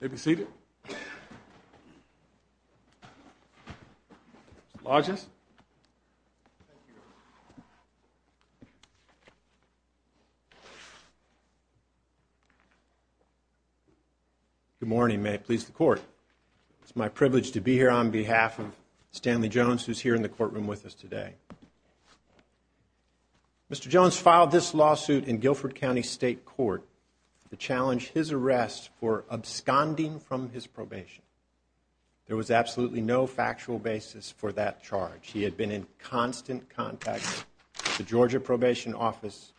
Good morning. May it please the court. It's my privilege to be here on behalf of Stanley Jones, who's here in the courtroom with us today. Mr. Jones filed this lawsuit in Guilford County State Court to challenge his arrest for absconding from his probation. There was absolutely no factual basis for that charge. He had been in constant contact with the Georgia probation office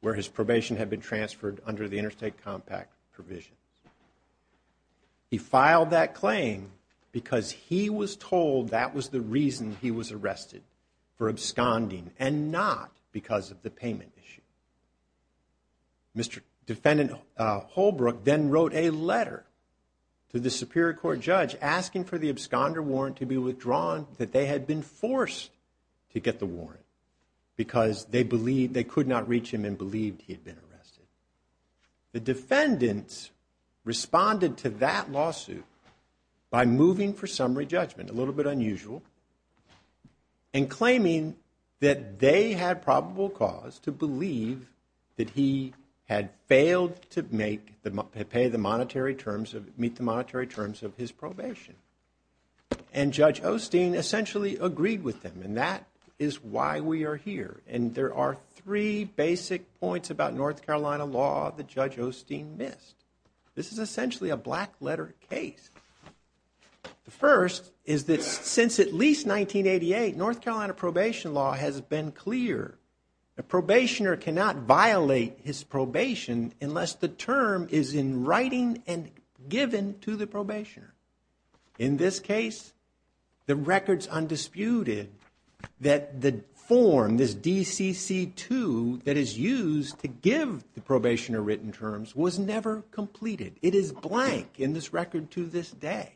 where his probation had been transferred under the interstate compact provision. He filed that claim because he was told that was the reason he was arrested for absconding and not because of the payment issue. Mr. Defendant Holbrook then wrote a letter to the Superior Court judge asking for the absconder warrant to be withdrawn that they had been forced to get the warrant. Because they believed they could not reach him and believed he had been arrested. The defendants responded to that lawsuit by moving for summary judgment, a little bit unusual, and claiming that they had probable cause to believe that he had failed to pay the monetary terms of his probation. And Judge Osteen essentially agreed with them and that is why we are here. And there are three basic points about North Carolina law that Judge Osteen missed. This is essentially a black letter case. The first is that since at least 1988, North Carolina probation law has been clear. A probationer cannot violate his probation unless the term is in writing and given to the probationer. In this case, the record is undisputed that the form, this DCC 2, that is used to give the probationer written terms was never completed. It is blank in this record to this day.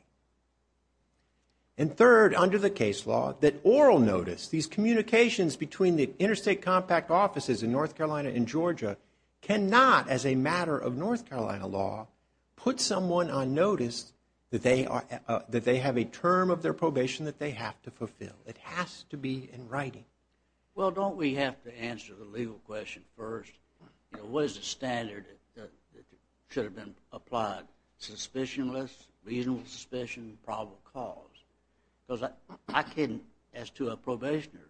And third, under the case law, that oral notice, these communications between the interstate compact offices in North Carolina and Georgia cannot, as a matter of North Carolina law, put someone on notice that they have a term of their probation that they have to fulfill. It has to be in writing. Well, don't we have to answer the legal question first? You know, what is the standard that should have been applied? Suspicionless, reasonable suspicion, probable cause. Because I couldn't, as to a probationer,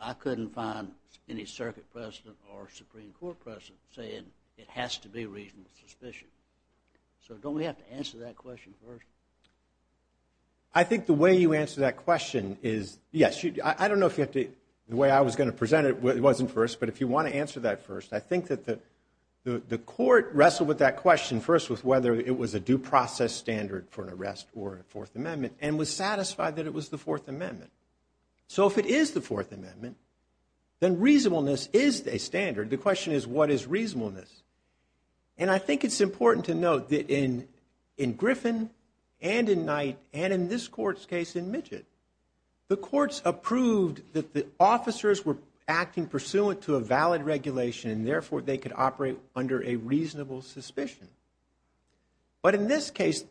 I couldn't find any circuit precedent or Supreme Court precedent saying it has to be reasonable suspicion. So don't we have to answer that question first? I think the way you answer that question is, yes, I don't know if you have to, the way I was going to present it wasn't first. But if you want to answer that first, I think that the court wrestled with that question first with whether it was a due process standard for an arrest or a Fourth Amendment and was satisfied that it was the Fourth Amendment. So if it is the Fourth Amendment, then reasonableness is a standard. The question is, what is reasonableness? And I think it's important to note that in Griffin and in Knight and in this court's case in Midget, the courts approved that the officers were acting pursuant to a valid regulation and therefore they could operate under a reasonable suspicion. But in this case,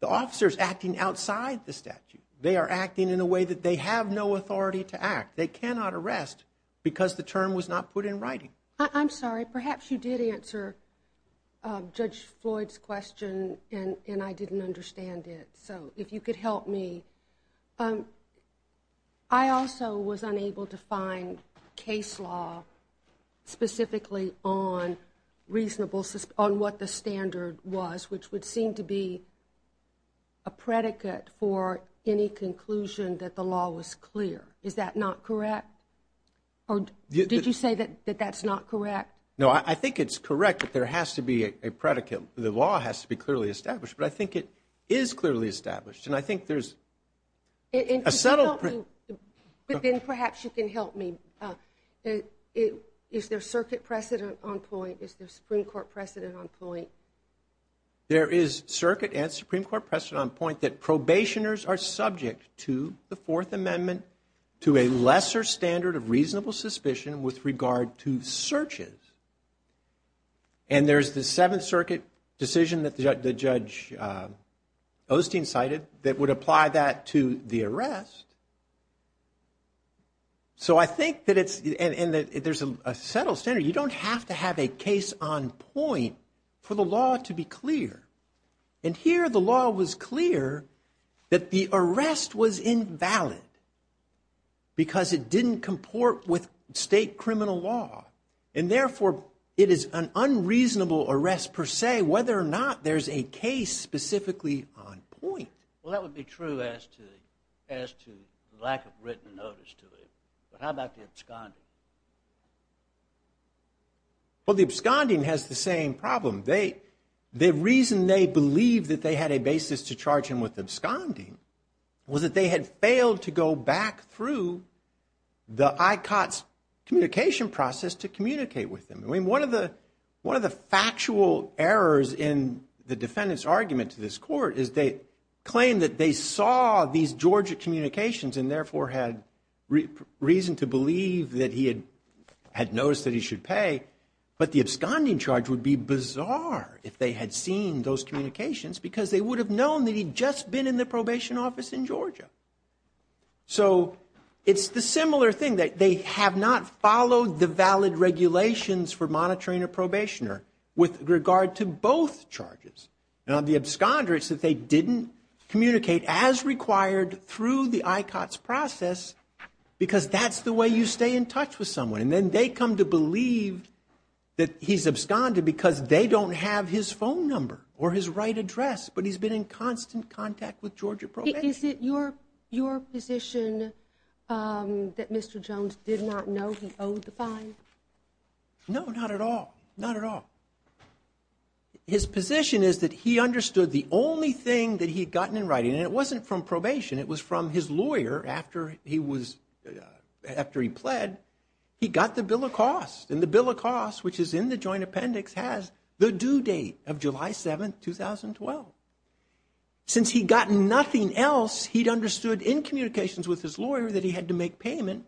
the officers acting outside the statute, they are acting in a way that they have no authority to act. They cannot arrest because the term was not put in writing. I'm sorry, perhaps you did answer Judge Floyd's question and I didn't understand it. So if you could help me. I also was unable to find case law specifically on reasonable, on what the standard was, which would seem to be a predicate for any conclusion that the law was clear. Is that not correct? Did you say that that's not correct? No, I think it's correct that there has to be a predicate. The law has to be clearly established, but I think it is clearly established. And I think there's a subtle. But then perhaps you can help me. Is there circuit precedent on point? Is the Supreme Court precedent on point? There is circuit and Supreme Court precedent on point that probationers are subject to the Fourth Amendment to a lesser standard of reasonable suspicion with regard to searches. And there's the Seventh Circuit decision that the judge Osteen cited that would apply that to the arrest. So I think that there's a subtle standard. You don't have to have a case on point for the law to be clear. And here the law was clear that the arrest was invalid because it didn't comport with state criminal law. And therefore, it is an unreasonable arrest per se whether or not there's a case specifically on point. Well, that would be true as to lack of written notice to it. But how about the absconding? Well, the absconding has the same problem. The reason they believed that they had a basis to charge him with absconding was that they had failed to go back through the ICOTS communication process to communicate with him. I mean, one of the factual errors in the defendant's argument to this court is they claim that they saw these Georgia communications and therefore had reason to believe that he had noticed that he should pay. But the absconding charge would be bizarre if they had seen those communications because they would have known that he'd just been in the probation office in Georgia. So it's the similar thing that they have not followed the valid regulations for monitoring a probationer with regard to both charges. Now, the absconder is that they didn't communicate as required through the ICOTS process because that's the way you stay in touch with someone. And then they come to believe that he's absconded because they don't have his phone number or his right address, but he's been in constant contact with Georgia probation. Is it your position that Mr. Jones did not know he owed the fine? No, not at all. Not at all. His position is that he understood the only thing that he had gotten in writing, and it wasn't from probation. It was from his lawyer after he was after he pled. He got the bill of costs and the bill of costs, which is in the joint appendix, has the due date of July 7th, 2012. Since he'd gotten nothing else, he'd understood in communications with his lawyer that he had to make payment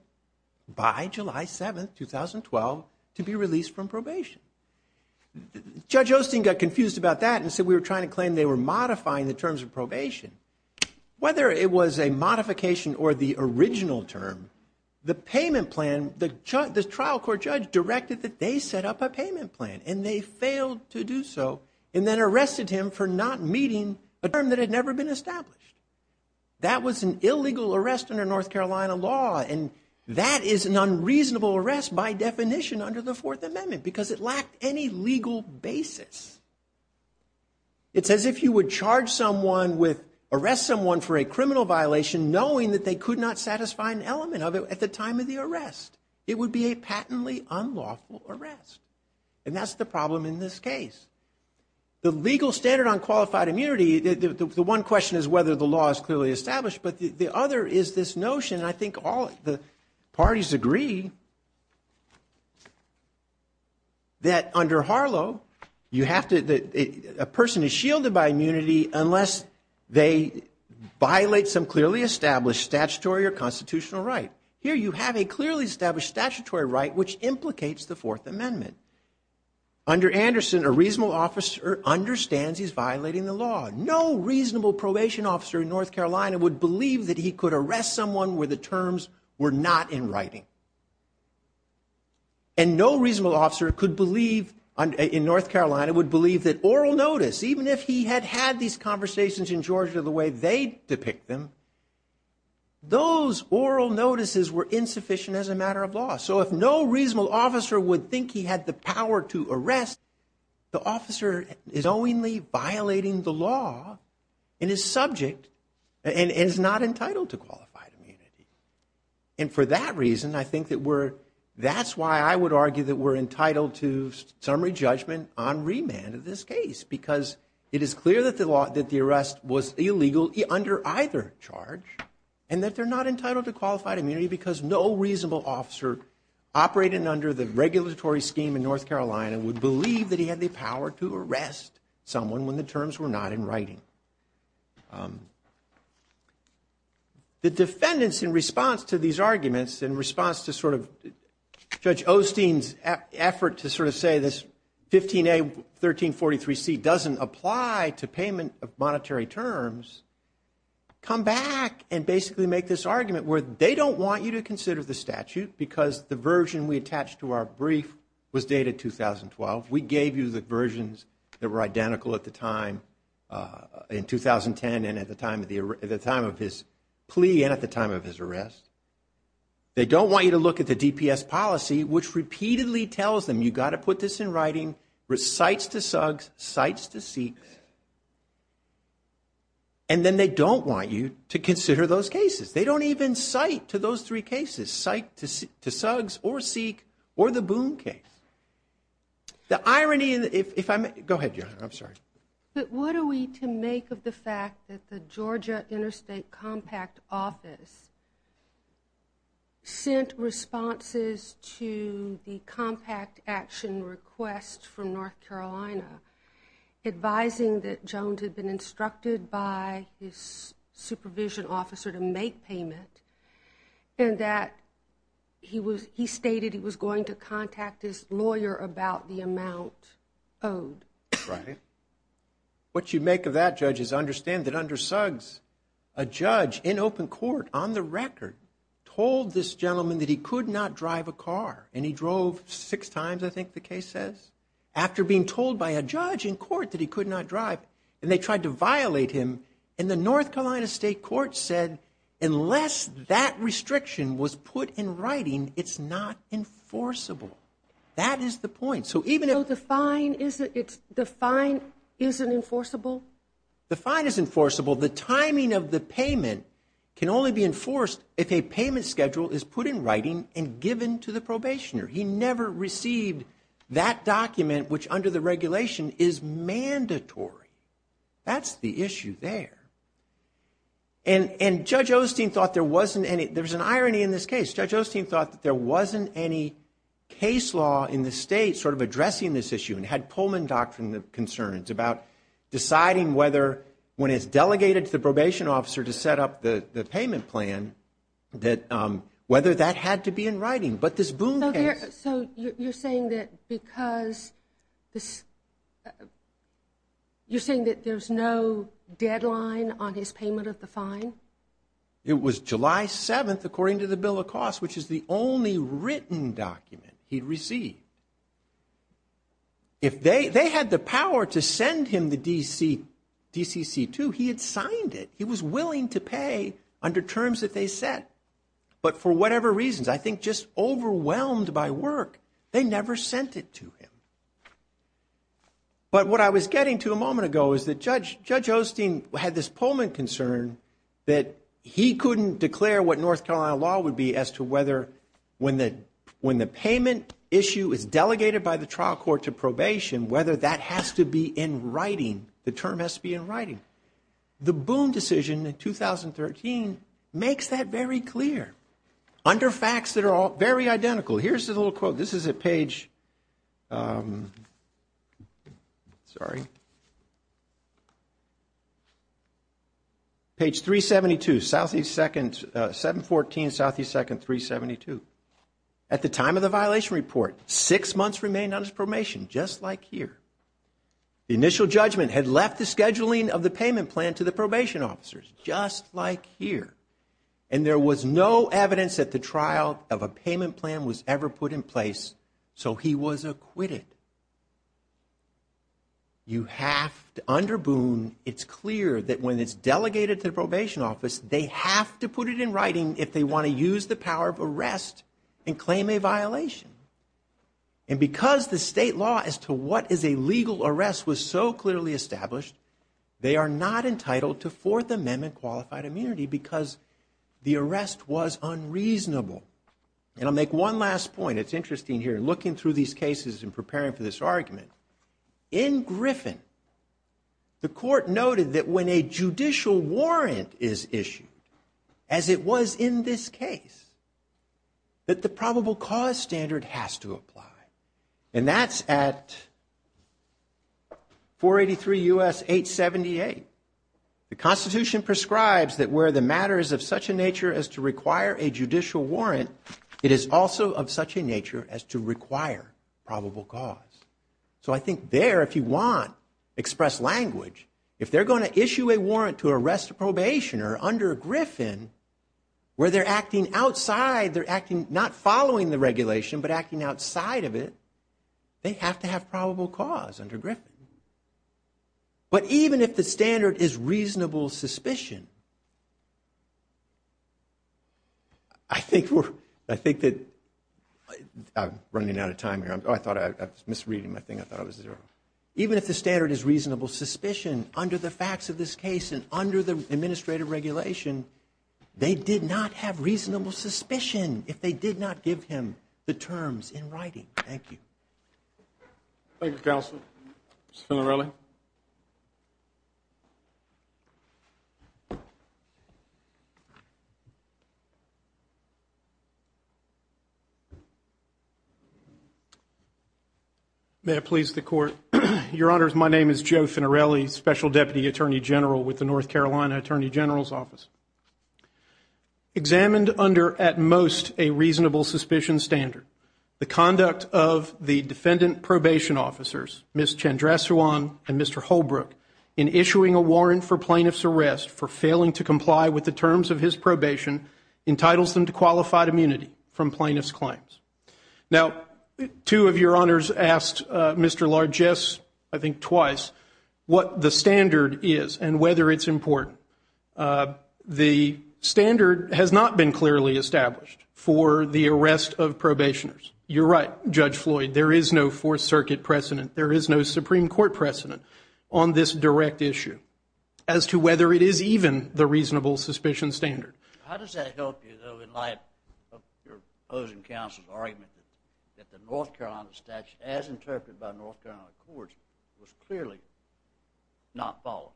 by July 7th, 2012, to be released from probation. Judge Osteen got confused about that and said we were trying to claim they were modifying the terms of probation. Whether it was a modification or the original term, the payment plan, the trial court judge directed that they set up a payment plan, and they failed to do so and then arrested him for not meeting a term that had never been established. That was an illegal arrest under North Carolina law, and that is an unreasonable arrest by definition under the Fourth Amendment because it lacked any legal basis. It's as if you would charge someone with arrest someone for a criminal violation knowing that they could not satisfy an element of it at the time of the arrest. It would be a patently unlawful arrest, and that's the problem in this case. The legal standard on qualified immunity, the one question is whether the law is clearly established, but the other is this notion, and I think all the parties agree, that under Harlow, a person is shielded by immunity unless they violate some clearly established statutory or constitutional right. Here you have a clearly established statutory right which implicates the Fourth Amendment. Under Anderson, a reasonable officer understands he's violating the law. No reasonable probation officer in North Carolina would believe that he could arrest someone where the terms were not in writing, and no reasonable officer could believe in North Carolina would believe that oral notice, even if he had had these conversations in Georgia the way they depict them, those oral notices were insufficient as a matter of law. So if no reasonable officer would think he had the power to arrest, the officer is knowingly violating the law in his subject and is not entitled to qualified immunity. And for that reason, I think that we're, that's why I would argue that we're entitled to summary judgment on remand in this case, because it is clear that the arrest was illegal under either charge, and that they're not entitled to qualified immunity because no reasonable officer operating under the regulatory scheme in North Carolina would believe that he had the power to arrest someone when the terms were not in writing. The defendants, in response to these arguments, in response to sort of Judge Osteen's effort to sort of say this 15A, 1343C, doesn't apply to payment of monetary terms, come back and basically make this argument where they don't want you to consider the statute because the version we attached to our brief was dated 2012. We gave you the versions that were identical at the time in 2010 and at the time of his plea and at the time of his arrest. They don't want you to look at the DPS policy, which repeatedly tells them you've got to put this in writing, cites to SUGS, cites to SEEKS, and then they don't want you to consider those cases. They don't even cite to those three cases, cite to SUGS or SEEK or the Boone case. The irony, if I may, go ahead, Johanna, I'm sorry. But what are we to make of the fact that the Georgia Interstate Compact Office sent responses to the compact action request from North Carolina, advising that Jones had been instructed by his supervision officer to make payment and that he stated he was going to contact his lawyer about the amount owed? Right. What you make of that, Judge, is understand that under SUGS, a judge in open court, on the record, told this gentleman that he could not drive a car. And he drove six times, I think the case says. After being told by a judge in court that he could not drive, and they tried to violate him, and the North Carolina State Court said, unless that restriction was put in writing, it's not enforceable. That is the point. So even if the fine isn't enforceable? The fine is enforceable. The timing of the payment can only be enforced if a payment schedule is put in writing and given to the probationer. He never received that document, which under the regulation is mandatory. That's the issue there. And Judge Osteen thought there wasn't any. There's an irony in this case. Judge Osteen thought that there wasn't any case law in the state sort of addressing this issue and had Pullman Doctrine concerns about deciding whether, when it's delegated to the probation officer to set up the payment plan, whether that had to be in writing. But this Boone case. So you're saying that because this, you're saying that there's no deadline on his payment of the fine? It was July 7th, according to the bill of costs, which is the only written document he'd received. If they had the power to send him the DCC-2, he had signed it. He was willing to pay under terms that they set. But for whatever reasons, I think just overwhelmed by work, they never sent it to him. But what I was getting to a moment ago is that Judge Osteen had this Pullman concern that he couldn't declare what North Carolina law would be as to whether, when the payment issue is delegated by the trial court to probation, whether that has to be in writing. The Boone decision in 2013 makes that very clear. Under facts that are all very identical. Here's the little quote. This is at page, sorry, page 372, Southeast 2nd, 714, Southeast 2nd, 372. At the time of the violation report, six months remained on his probation, just like here. The initial judgment had left the scheduling of the payment plan to the probation officers, just like here. And there was no evidence that the trial of a payment plan was ever put in place, so he was acquitted. You have to, under Boone, it's clear that when it's delegated to the probation office, they have to put it in writing if they want to use the power of arrest and claim a violation. And because the state law as to what is a legal arrest was so clearly established, they are not entitled to Fourth Amendment qualified immunity because the arrest was unreasonable. And I'll make one last point. It's interesting here, looking through these cases and preparing for this argument. In Griffin, the court noted that when a judicial warrant is issued, as it was in this case, that the probable cause standard has to apply. And that's at 483 U.S. 878. The Constitution prescribes that where the matter is of such a nature as to require a judicial warrant, it is also of such a nature as to require probable cause. So I think there, if you want express language, if they're going to issue a warrant to arrest a probationer under Griffin, where they're acting outside, they're acting not following the regulation, but acting outside of it, they have to have probable cause under Griffin. But even if the standard is reasonable suspicion, I think that I'm running out of time here. I thought I was misreading my thing. I thought I was zero. Even if the standard is reasonable suspicion under the facts of this case and under the administrative regulation, they did not have reasonable suspicion if they did not give him the terms in writing. Thank you. Thank you, counsel. Mr. Finarelli. May I please the court? Your Honors, my name is Joe Finarelli, Special Deputy Attorney General with the North Carolina Attorney General's Office. Examined under, at most, a reasonable suspicion standard, the conduct of the defendant probation officers, Ms. Chandrasewan and Mr. Holbrook, in issuing a warrant for plaintiff's arrest for failing to comply with the terms of his probation entitles them to qualified immunity from plaintiff's claims. Now, two of your honors asked Mr. Largesse, I think twice, what the standard is and whether it's important. The standard has not been clearly established for the arrest of probationers. You're right, Judge Floyd, there is no Fourth Circuit precedent, there is no Supreme Court precedent on this direct issue as to whether it is even the reasonable suspicion standard. How does that help you, though, in light of your opposing counsel's argument that the North Carolina statute, as interpreted by North Carolina courts, was clearly not followed?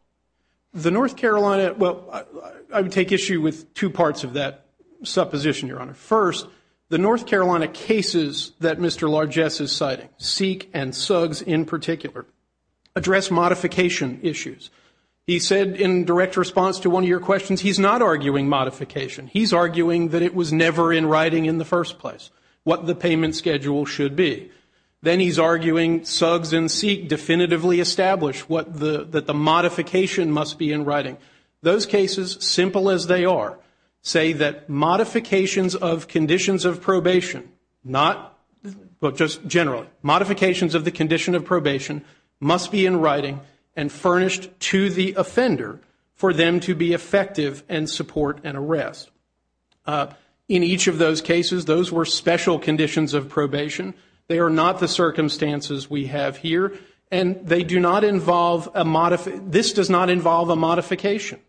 The North Carolina, well, I would take issue with two parts of that supposition, Your Honor. First, the North Carolina cases that Mr. Largesse is citing, Seek and Suggs in particular, address modification issues. He said in direct response to one of your questions, he's not arguing modification. He's arguing that it was never in writing in the first place, what the payment schedule should be. Then he's arguing Suggs and Seek definitively establish that the modification must be in writing. Those cases, simple as they are, say that modifications of conditions of probation, not just generally, modifications of the condition of probation must be in writing and furnished to the offender for them to be effective and support an arrest. In each of those cases, those were special conditions of probation. They are not the circumstances we have here, and they do not involve a modification. This does not involve a modification.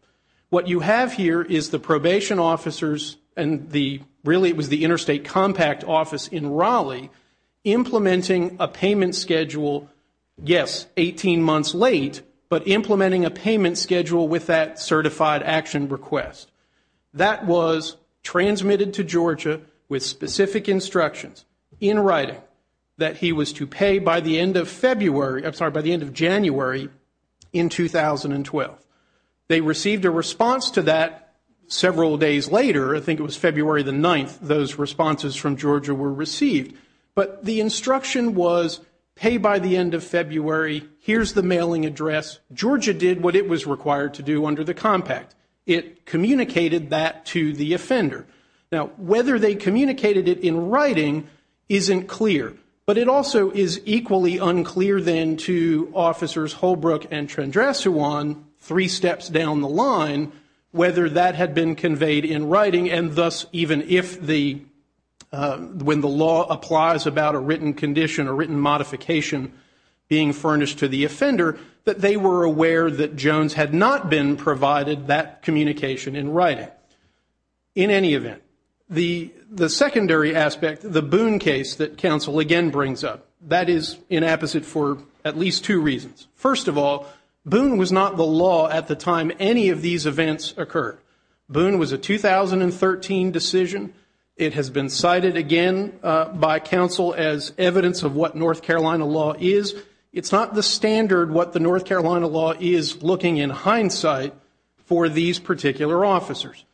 What you have here is the probation officers and really it was the interstate compact office in Raleigh implementing a payment schedule, yes, 18 months late, but implementing a payment schedule with that certified action request. That was transmitted to Georgia with specific instructions in writing that he was to pay by the end of January in 2012. They received a response to that several days later. I think it was February the 9th those responses from Georgia were received. But the instruction was pay by the end of February. Here's the mailing address. Georgia did what it was required to do under the compact. It communicated that to the offender. Now, whether they communicated it in writing isn't clear, but it also is equally unclear then to Officers Holbrook and Trendrassouan, and thus even when the law applies about a written condition, a written modification being furnished to the offender, that they were aware that Jones had not been provided that communication in writing in any event. The secondary aspect, the Boone case that counsel again brings up, that is inapposite for at least two reasons. First of all, Boone was not the law at the time any of these events occurred. Boone was a 2013 decision. It has been cited again by counsel as evidence of what North Carolina law is. It's not the standard what the North Carolina law is looking in hindsight for these particular officers.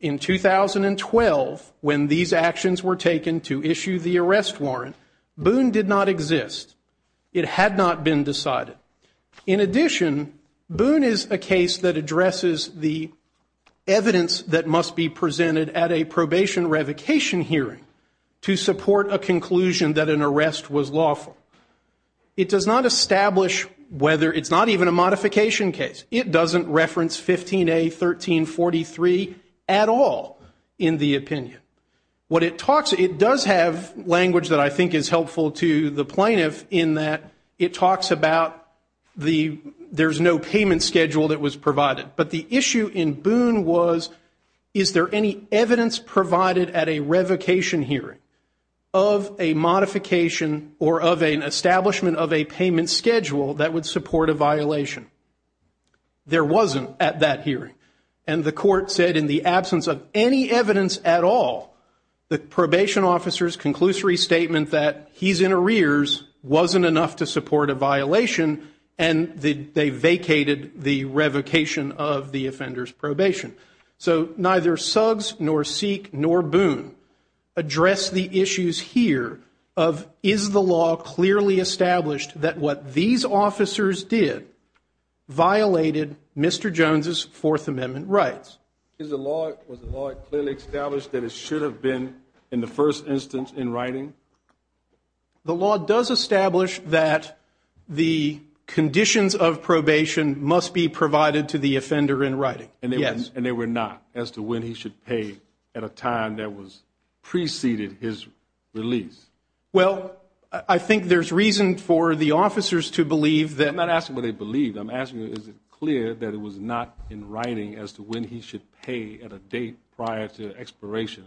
In 2012, when these actions were taken to issue the arrest warrant, Boone did not exist. It had not been decided. In addition, Boone is a case that addresses the evidence that must be presented at a probation revocation hearing to support a conclusion that an arrest was lawful. It does not establish whether it's not even a modification case. It doesn't reference 15A.13.43 at all in the opinion. It does have language that I think is helpful to the plaintiff in that it talks about there's no payment schedule that was provided. But the issue in Boone was, is there any evidence provided at a revocation hearing of a modification or of an establishment of a payment schedule that would support a violation? There wasn't at that hearing. And the court said in the absence of any evidence at all, the probation officer's conclusory statement that he's in arrears wasn't enough to support a violation, and they vacated the revocation of the offender's probation. So neither Suggs nor Seek nor Boone address the issues here of, is the law clearly established that what these officers did violated Mr. Jones' Fourth Amendment rights? Was the law clearly established that it should have been in the first instance in writing? The law does establish that the conditions of probation must be provided to the offender in writing, yes. And they were not as to when he should pay at a time that preceded his release? Well, I think there's reason for the officers to believe that. I'm not asking what they believe. I'm asking is it clear that it was not in writing as to when he should pay at a date prior to expiration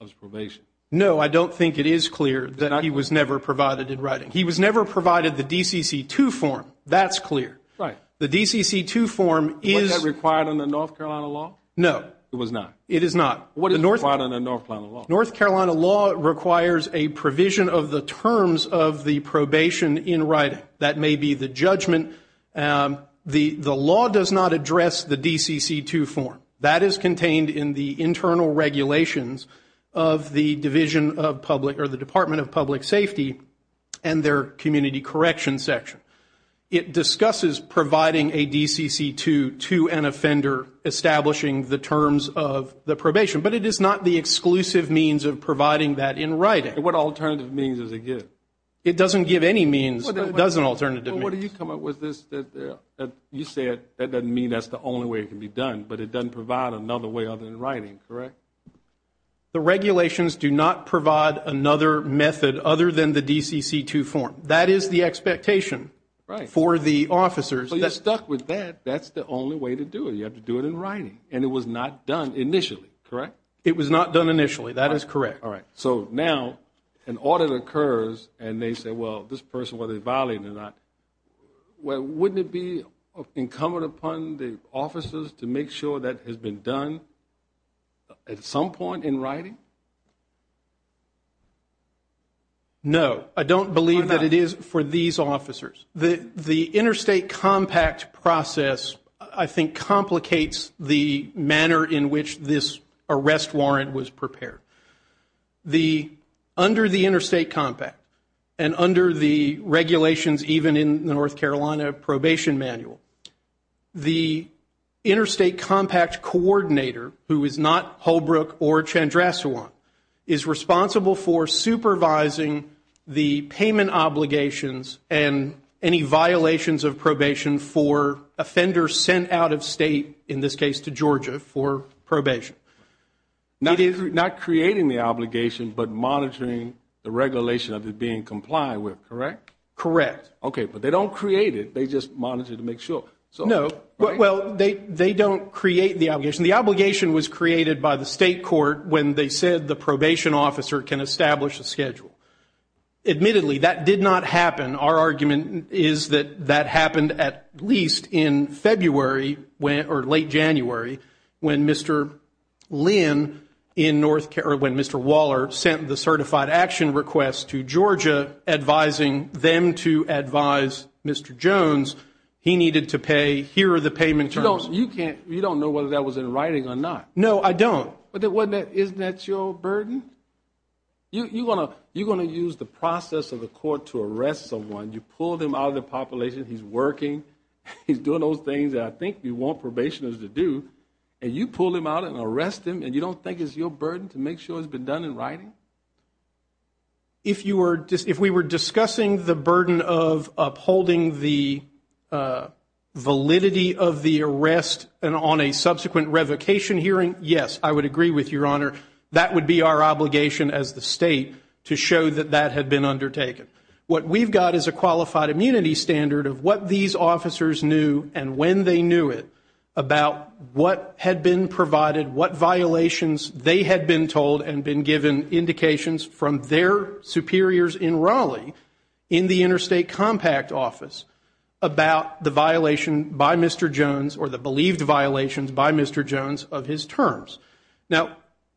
of his probation? No, I don't think it is clear that he was never provided in writing. He was never provided the DCC 2 form. That's clear. Right. The DCC 2 form is. Was that required under North Carolina law? No. It was not. It is not. What is required under North Carolina law? North Carolina law requires a provision of the terms of the probation in writing. That may be the judgment. The law does not address the DCC 2 form. That is contained in the internal regulations of the Division of Public or the Department of Public Safety and their community correction section. It discusses providing a DCC 2 to an offender establishing the terms of the probation. But it is not the exclusive means of providing that in writing. What alternative means does it give? It doesn't give any means, but it does an alternative means. Well, what do you come up with? You said that doesn't mean that's the only way it can be done, but it doesn't provide another way other than writing, correct? The regulations do not provide another method other than the DCC 2 form. That is the expectation for the officers. Well, you're stuck with that. That's the only way to do it. You have to do it in writing. And it was not done initially, correct? It was not done initially. That is correct. All right. So now an audit occurs and they say, well, this person, whether they're violating or not, wouldn't it be incumbent upon the officers to make sure that has been done at some point in writing? No. I don't believe that it is for these officers. The interstate compact process, I think, complicates the manner in which this arrest warrant was prepared. Under the interstate compact and under the regulations even in the North Carolina probation manual, the interstate compact coordinator, who is not Holbrook or Chandrasewant, is responsible for supervising the payment obligations and any violations of probation for offenders sent out of state, in this case to Georgia, for probation. Not creating the obligation but monitoring the regulation of it being complied with, correct? Correct. Okay, but they don't create it. They just monitor to make sure. No. Well, they don't create the obligation. The obligation was created by the state court when they said the probation officer can establish a schedule. Admittedly, that did not happen. Our argument is that that happened at least in late January when Mr. Waller sent the certified action request to Georgia, advising them to advise Mr. Jones he needed to pay. Here are the payment terms. You don't know whether that was in writing or not. No, I don't. Isn't that your burden? You're going to use the process of the court to arrest someone. You pull them out of the population. He's working. He's doing those things that I think you want probationers to do, and you pull him out and arrest him, and you don't think it's your burden to make sure it's been done in writing? If we were discussing the burden of upholding the validity of the arrest and on a subsequent revocation hearing, yes, I would agree with Your Honor. That would be our obligation as the state to show that that had been undertaken. What we've got is a qualified immunity standard of what these officers knew and when they knew it about what had been provided, what violations they had been told and been given indications from their superiors in Raleigh in the interstate compact office about the violation by Mr. Jones or the believed violations by Mr. Jones of his terms. Now,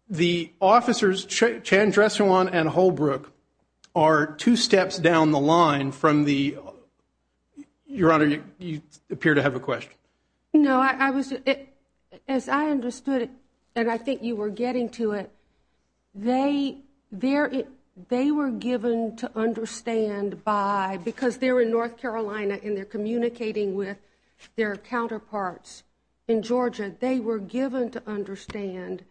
the officers, Chandrasekhar and Holbrook, are two steps down the line from the – Your Honor, you appear to have a question. No, I was – as I understood it, and I think you were getting to it, they were given to understand by – because they're in North Carolina and they're communicating with their counterparts in Georgia, they were given to understand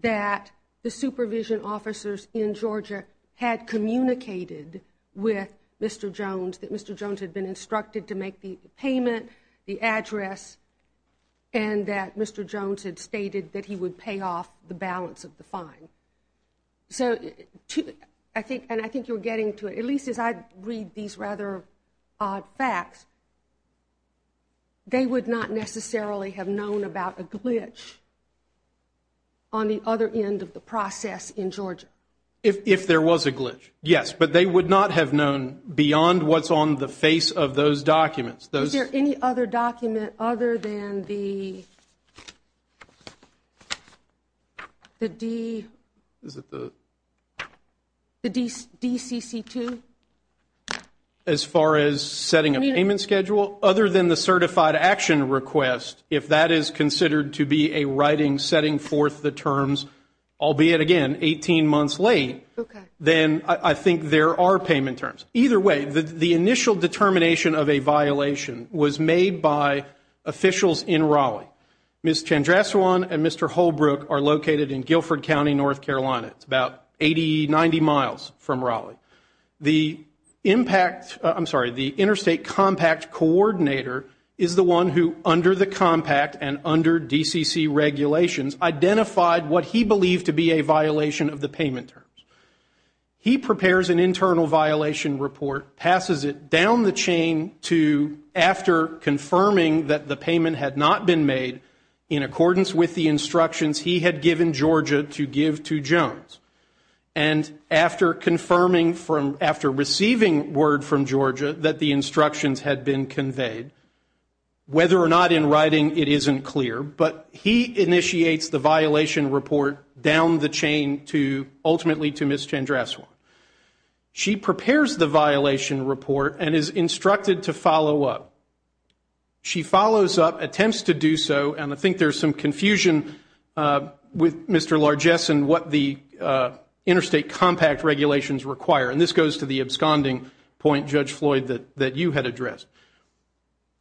that the supervision officers in Georgia had communicated with Mr. Jones, that Mr. Jones had been instructed to make the payment, the address, and that Mr. Jones had stated that he would pay off the balance of the fine. So I think – and I think you were getting to it, at least as I read these rather odd facts, they would not necessarily have known about a glitch on the other end of the process in Georgia. If there was a glitch, yes. But they would not have known beyond what's on the face of those documents. Is there any other document other than the DCC2? As far as setting a payment schedule? Other than the certified action request, if that is considered to be a writing setting forth the terms, albeit, again, 18 months late, then I think there are payment terms. Either way, the initial determination of a violation was made by officials in Raleigh. Ms. Chandrasewan and Mr. Holbrook are located in Guilford County, North Carolina. It's about 80, 90 miles from Raleigh. The impact – I'm sorry, the interstate compact coordinator is the one who, under the compact and under DCC regulations, identified what he believed to be a violation of the payment terms. He prepares an internal violation report, passes it down the chain to, after confirming that the payment had not been made, in accordance with the instructions he had given Georgia to give to Jones, and after confirming from – after receiving word from Georgia that the instructions had been conveyed, whether or not in writing it isn't clear, but he initiates the violation report down the chain to – ultimately to Ms. Chandrasewan. She prepares the violation report and is instructed to follow up. She follows up, attempts to do so, and I think there's some confusion with Mr. Largeson what the interstate compact regulations require, and this goes to the absconding point, Judge Floyd, that you had addressed.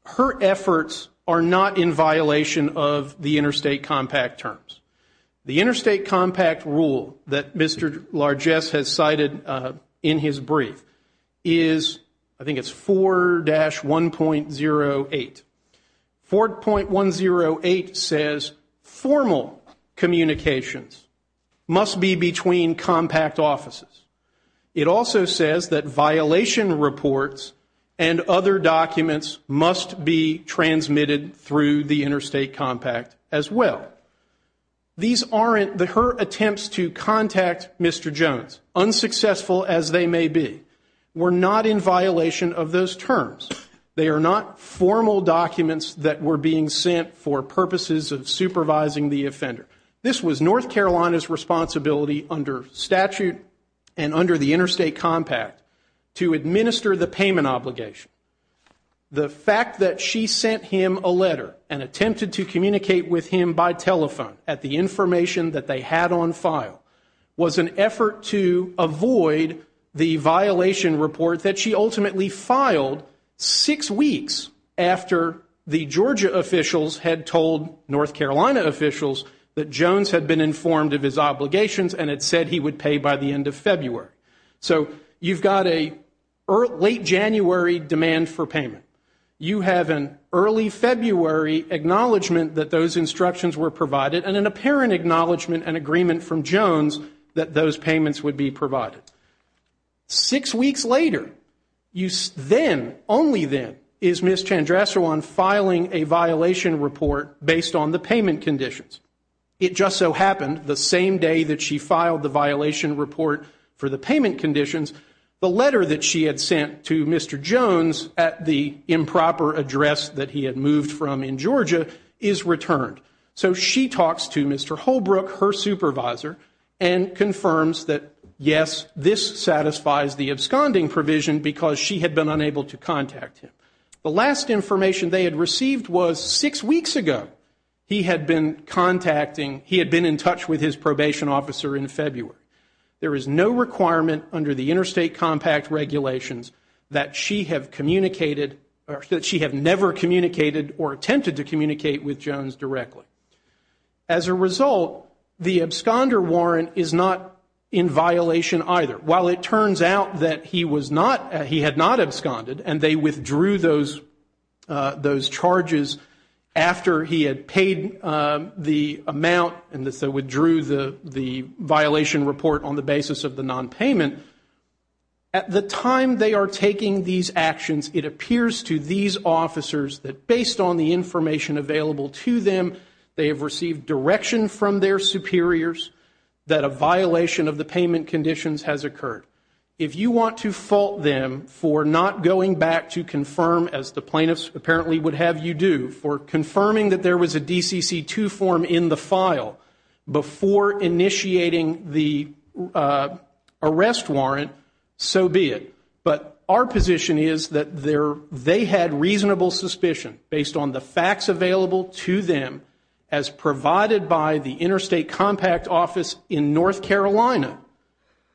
Her efforts are not in violation of the interstate compact terms. The interstate compact rule that Mr. Largeson has cited in his brief is – I think it's 4-1.08. 4.108 says formal communications must be between compact offices. It also says that violation reports and other documents must be transmitted through the interstate compact as well. These aren't – her attempts to contact Mr. Jones, unsuccessful as they may be, were not in violation of those terms. They are not formal documents that were being sent for purposes of supervising the offender. This was North Carolina's responsibility under statute and under the interstate compact to administer the payment obligation. The fact that she sent him a letter and attempted to communicate with him by telephone at the information that they had on file was an effort to avoid the violation report that she ultimately filed six weeks after the Georgia officials had told North Carolina officials that Jones had been informed of his obligations and had said he would pay by the end of February. So you've got a late January demand for payment. You have an early February acknowledgement that those instructions were provided and an apparent acknowledgement and agreement from Jones that those payments would be provided. Six weeks later, then, only then, is Ms. Chandrasewan filing a violation report based on the payment conditions. It just so happened the same day that she filed the violation report for the payment conditions, the letter that she had sent to Mr. Jones at the improper address that he had moved from in Georgia is returned. So she talks to Mr. Holbrook, her supervisor, and confirms that, yes, this satisfies the absconding provision because she had been unable to contact him. The last information they had received was six weeks ago. He had been contacting, he had been in touch with his probation officer in February. There is no requirement under the interstate compact regulations that she have communicated, or that she have never communicated or attempted to communicate with Jones directly. As a result, the absconder warrant is not in violation either. While it turns out that he was not, he had not absconded, and they withdrew those charges after he had paid the amount and so withdrew the violation report on the basis of the nonpayment, at the time they are taking these actions, it appears to these officers that, based on the information available to them, they have received direction from their superiors that a violation of the payment conditions has occurred. If you want to fault them for not going back to confirm, as the plaintiffs apparently would have you do, for confirming that there was a DCC 2 form in the file before initiating the arrest warrant, so be it. But our position is that they had reasonable suspicion, based on the facts available to them, as provided by the interstate compact office in North Carolina,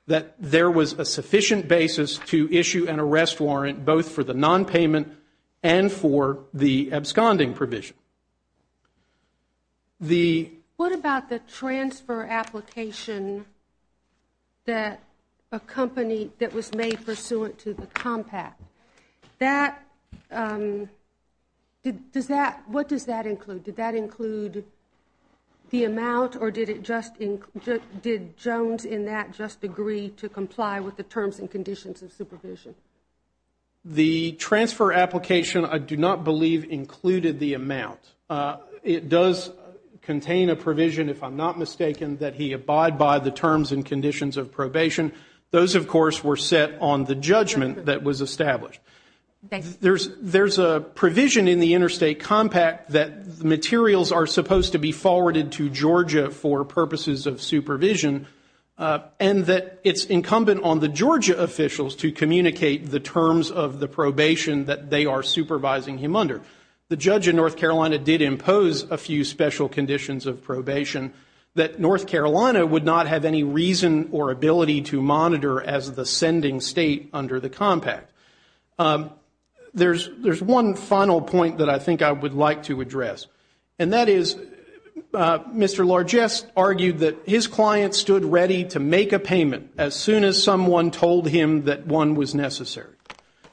that there was a sufficient basis to issue an arrest warrant, both for the nonpayment and for the absconding provision. What about the transfer application that a company that was made pursuant to the compact? What does that include? Did that include the amount or did Jones in that just agree to comply with the terms and conditions of supervision? The transfer application, I do not believe, included the amount. It does contain a provision, if I'm not mistaken, that he abide by the terms and conditions of probation. Those, of course, were set on the judgment that was established. There's a provision in the interstate compact that materials are supposed to be forwarded to Georgia for purposes of supervision, and that it's incumbent on the Georgia officials to communicate the terms of the probation that they are supervising him under. The judge in North Carolina did impose a few special conditions of probation that North Carolina would not have any reason or ability to monitor as the sending state under the compact. There's one final point that I think I would like to address, and that is Mr. Largest argued that his client stood ready to make a payment as soon as someone told him that one was necessary.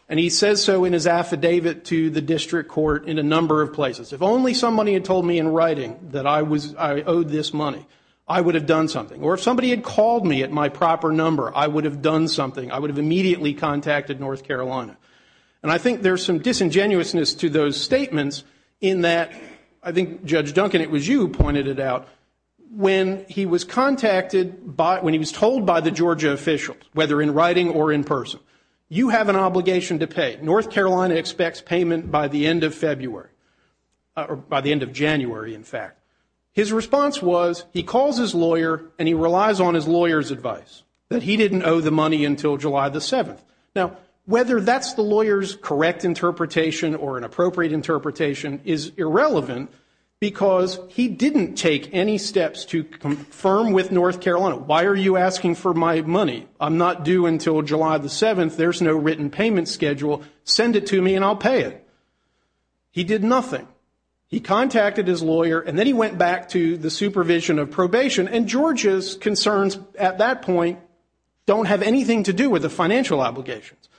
And he says so in his affidavit to the district court in a number of places. If only somebody had told me in writing that I owed this money, I would have done something. Or if somebody had called me at my proper number, I would have done something. I would have immediately contacted North Carolina. And I think there's some disingenuousness to those statements in that I think Judge Duncan, it was you who pointed it out, when he was told by the Georgia officials, whether in writing or in person, you have an obligation to pay. North Carolina expects payment by the end of January, in fact. His response was he calls his lawyer and he relies on his lawyer's advice, that he didn't owe the money until July the 7th. Now, whether that's the lawyer's correct interpretation or an appropriate interpretation is irrelevant because he didn't take any steps to confirm with North Carolina, why are you asking for my money? I'm not due until July the 7th. There's no written payment schedule. Send it to me and I'll pay it. He did nothing. He contacted his lawyer and then he went back to the supervision of probation. And Georgia's concerns at that point don't have anything to do with the financial obligations.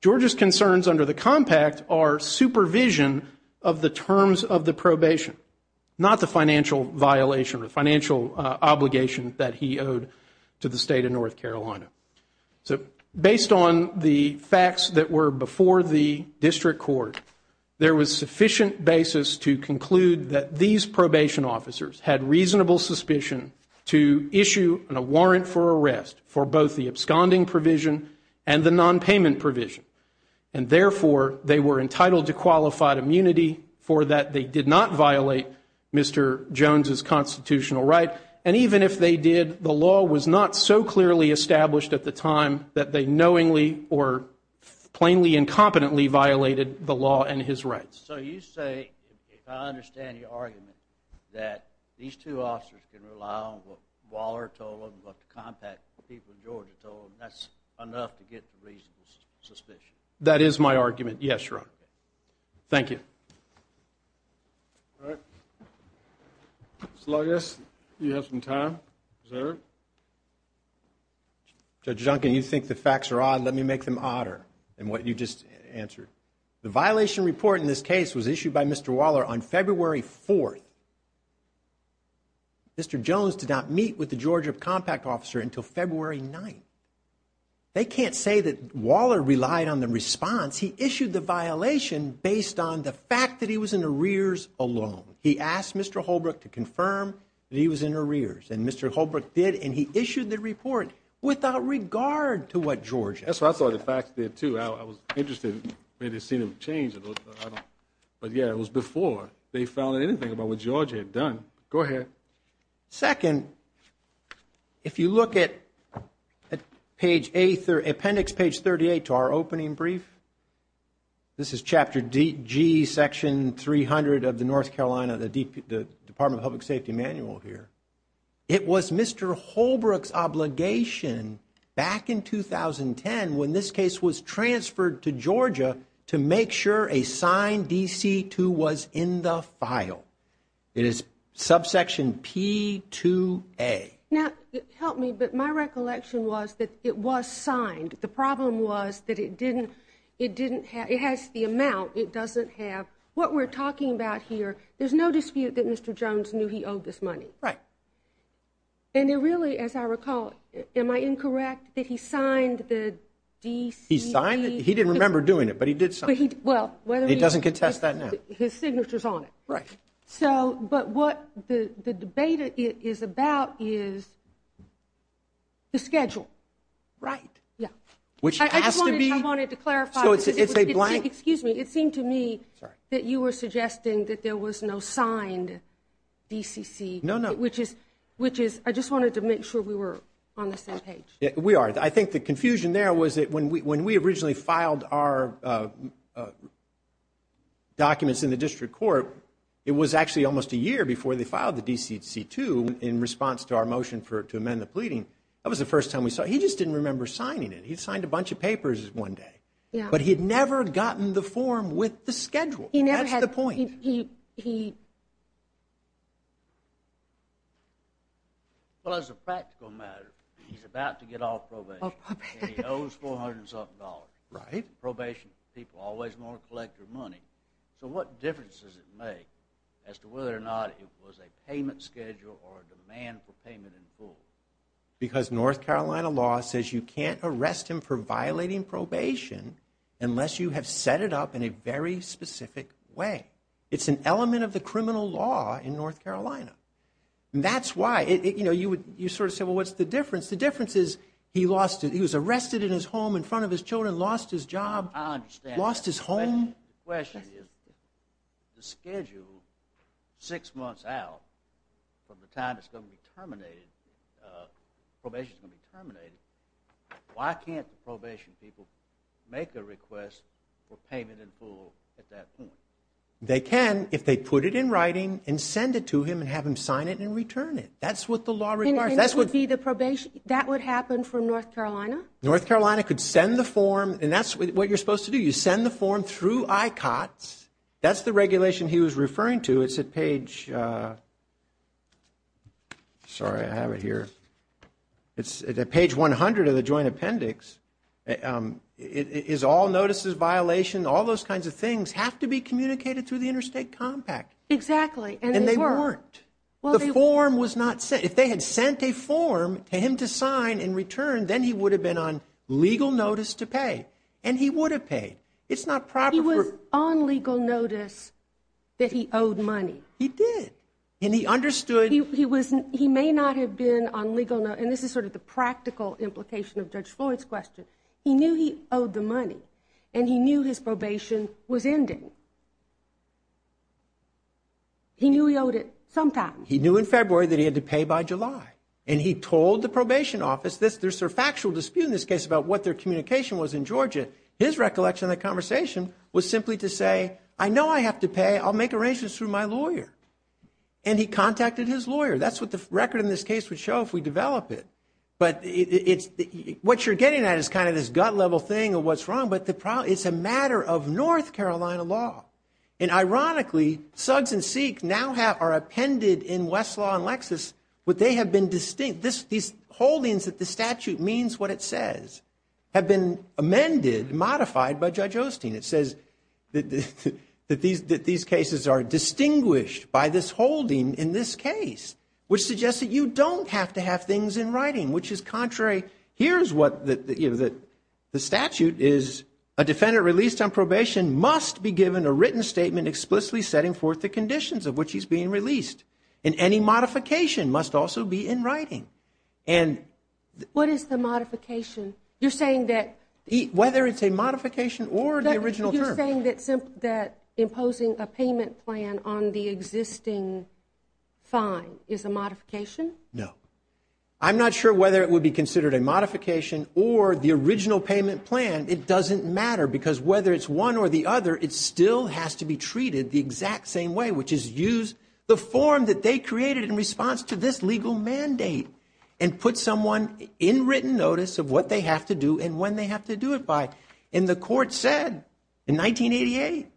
Georgia's concerns under the compact are supervision of the terms of the probation, not the financial violation or financial obligation that he owed to the state of North Carolina. So based on the facts that were before the district court, there was sufficient basis to conclude that these probation officers had reasonable suspicion to issue a warrant for arrest for both the absconding provision and the nonpayment provision. And therefore, they were entitled to qualified immunity for that they did not violate Mr. Jones' constitutional right. And even if they did, the law was not so clearly established at the time that they knowingly or plainly incompetently violated the law and his rights. So you say, if I understand your argument, that these two officers can rely on what Waller told them, what the compact people in Georgia told them, that's enough to get to reasonable suspicion? That is my argument, yes, Your Honor. Thank you. All right. So I guess you have some time, sir. Judge Duncan, you think the facts are odd. Let me make them odder than what you just answered. The violation report in this case was issued by Mr. Waller on February 4th. Mr. Jones did not meet with the Georgia compact officer until February 9th. They can't say that Waller relied on the response. He issued the violation based on the fact that he was in arrears alone. He asked Mr. Holbrook to confirm that he was in arrears, and Mr. Holbrook did, and he issued the report without regard to what Georgia had done. That's right. I saw the facts there, too. I was interested. Maybe it seemed to have changed. But, yeah, it was before they found anything about what Georgia had done. Go ahead. Second, if you look at appendix page 38 to our opening brief, this is chapter G, section 300 of the North Carolina Department of Public Safety manual here. It was Mr. Holbrook's obligation back in 2010 when this case was transferred to Georgia to make sure a signed DC-2 was in the file. It is subsection P-2A. Now, help me, but my recollection was that it was signed. The problem was that it didn't have the amount. It doesn't have what we're talking about here. There's no dispute that Mr. Jones knew he owed this money. Right. And it really, as I recall, am I incorrect that he signed the DC-2? He signed it. He didn't remember doing it, but he did sign it. He doesn't contest that now. His signature's on it. Right. So, but what the debate is about is the schedule. Right. Yeah. Which has to be. I just wanted to clarify. So it's a blank. Excuse me. It seemed to me that you were suggesting that there was no signed DCC. No, no. Which is, I just wanted to make sure we were on the same page. We are. I think the confusion there was that when we originally filed our documents in the district court, it was actually almost a year before they filed the DC-2 in response to our motion to amend the pleading. That was the first time we saw it. He just didn't remember signing it. He signed a bunch of papers one day. Yeah. But he had never gotten the form with the schedule. That's the point. He never had. He. Well, as a practical matter, he's about to get off probation. He owes 400 and something dollars. Right. Probation people always want to collect their money. So what difference does it make as to whether or not it was a payment schedule or a demand for payment in full? Because North Carolina law says you can't arrest him for violating probation unless you have set it up in a very specific way. It's an element of the criminal law in North Carolina. That's why. You sort of say, well, what's the difference? The difference is he was arrested in his home in front of his children, lost his job. I understand. Lost his home. The question is the schedule six months out from the time it's going to be terminated, probation's going to be terminated, why can't the probation people make a request for payment in full at that point? They can if they put it in writing and send it to him and have him sign it and return it. That's what the law requires. That would be the probation. That would happen from North Carolina. North Carolina could send the form. And that's what you're supposed to do. You send the form through ICOTS. That's the regulation he was referring to. It's a page. Sorry, I have it here. It's page 100 of the joint appendix. It is all notices violation. All those kinds of things have to be communicated through the interstate compact. Exactly. And they weren't. The form was not sent. If they had sent a form to him to sign and return, then he would have been on legal notice to pay. And he would have paid. It's not proper. He was on legal notice that he owed money. He did. And he understood. He may not have been on legal notice. And this is sort of the practical implication of Judge Floyd's question. He knew he owed the money. And he knew his probation was ending. He knew he owed it sometime. He knew in February that he had to pay by July. And he told the probation office. There's a factual dispute in this case about what their communication was in Georgia. His recollection of the conversation was simply to say, I know I have to pay. I'll make arrangements through my lawyer. And he contacted his lawyer. That's what the record in this case would show if we develop it. But what you're getting at is kind of this gut level thing of what's wrong. But it's a matter of North Carolina law. And ironically, Suggs and Seek now are appended in Westlaw and Lexis. But they have been distinct. These holdings that the statute means what it says have been amended, modified by Judge Osteen. It says that these cases are distinguished by this holding in this case, which suggests that you don't have to have things in writing, which is contrary. Here's what the statute is. A defendant released on probation must be given a written statement explicitly setting forth the conditions of which he's being released. And any modification must also be in writing. And what is the modification? You're saying that whether it's a modification or the original term. You're saying that imposing a payment plan on the existing fine is a modification? No. I'm not sure whether it would be considered a modification or the original payment plan. It doesn't matter because whether it's one or the other, it still has to be treated the exact same way, which is use the form that they created in response to this legal mandate and put someone in written notice of what they have to do and when they have to do it by. And the court said in 1988,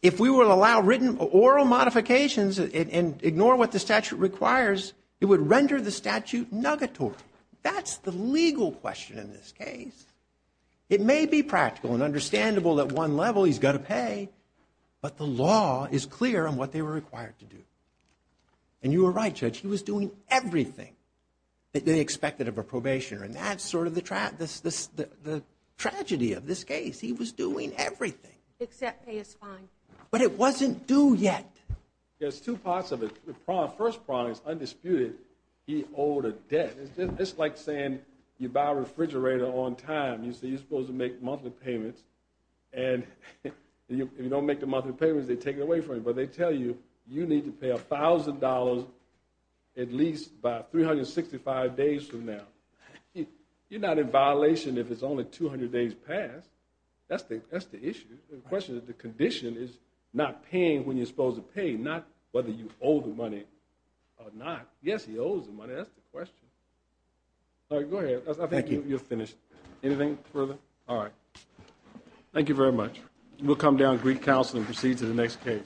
if we will allow written or oral modifications and ignore what the statute requires, it would render the statute negatory. That's the legal question in this case. It may be practical and understandable at one level he's got to pay, but the law is clear on what they were required to do. And you were right, Judge. He was doing everything that they expected of a probationer. And that's sort of the tragedy of this case. He was doing everything. Except pay his fine. But it wasn't due yet. There's two parts of it. The first part is undisputed. He owed a debt. It's like saying you buy a refrigerator on time. You're supposed to make monthly payments. And if you don't make the monthly payments, they take it away from you. But they tell you you need to pay $1,000 at least by 365 days from now. You're not in violation if it's only 200 days past. That's the issue. The question is the condition is not paying when you're supposed to pay, not whether you owe the money or not. Yes, he owes the money. That's the question. All right, go ahead. I think you're finished. Anything further? All right. Thank you very much. We'll come down and greet counsel and proceed to the next case.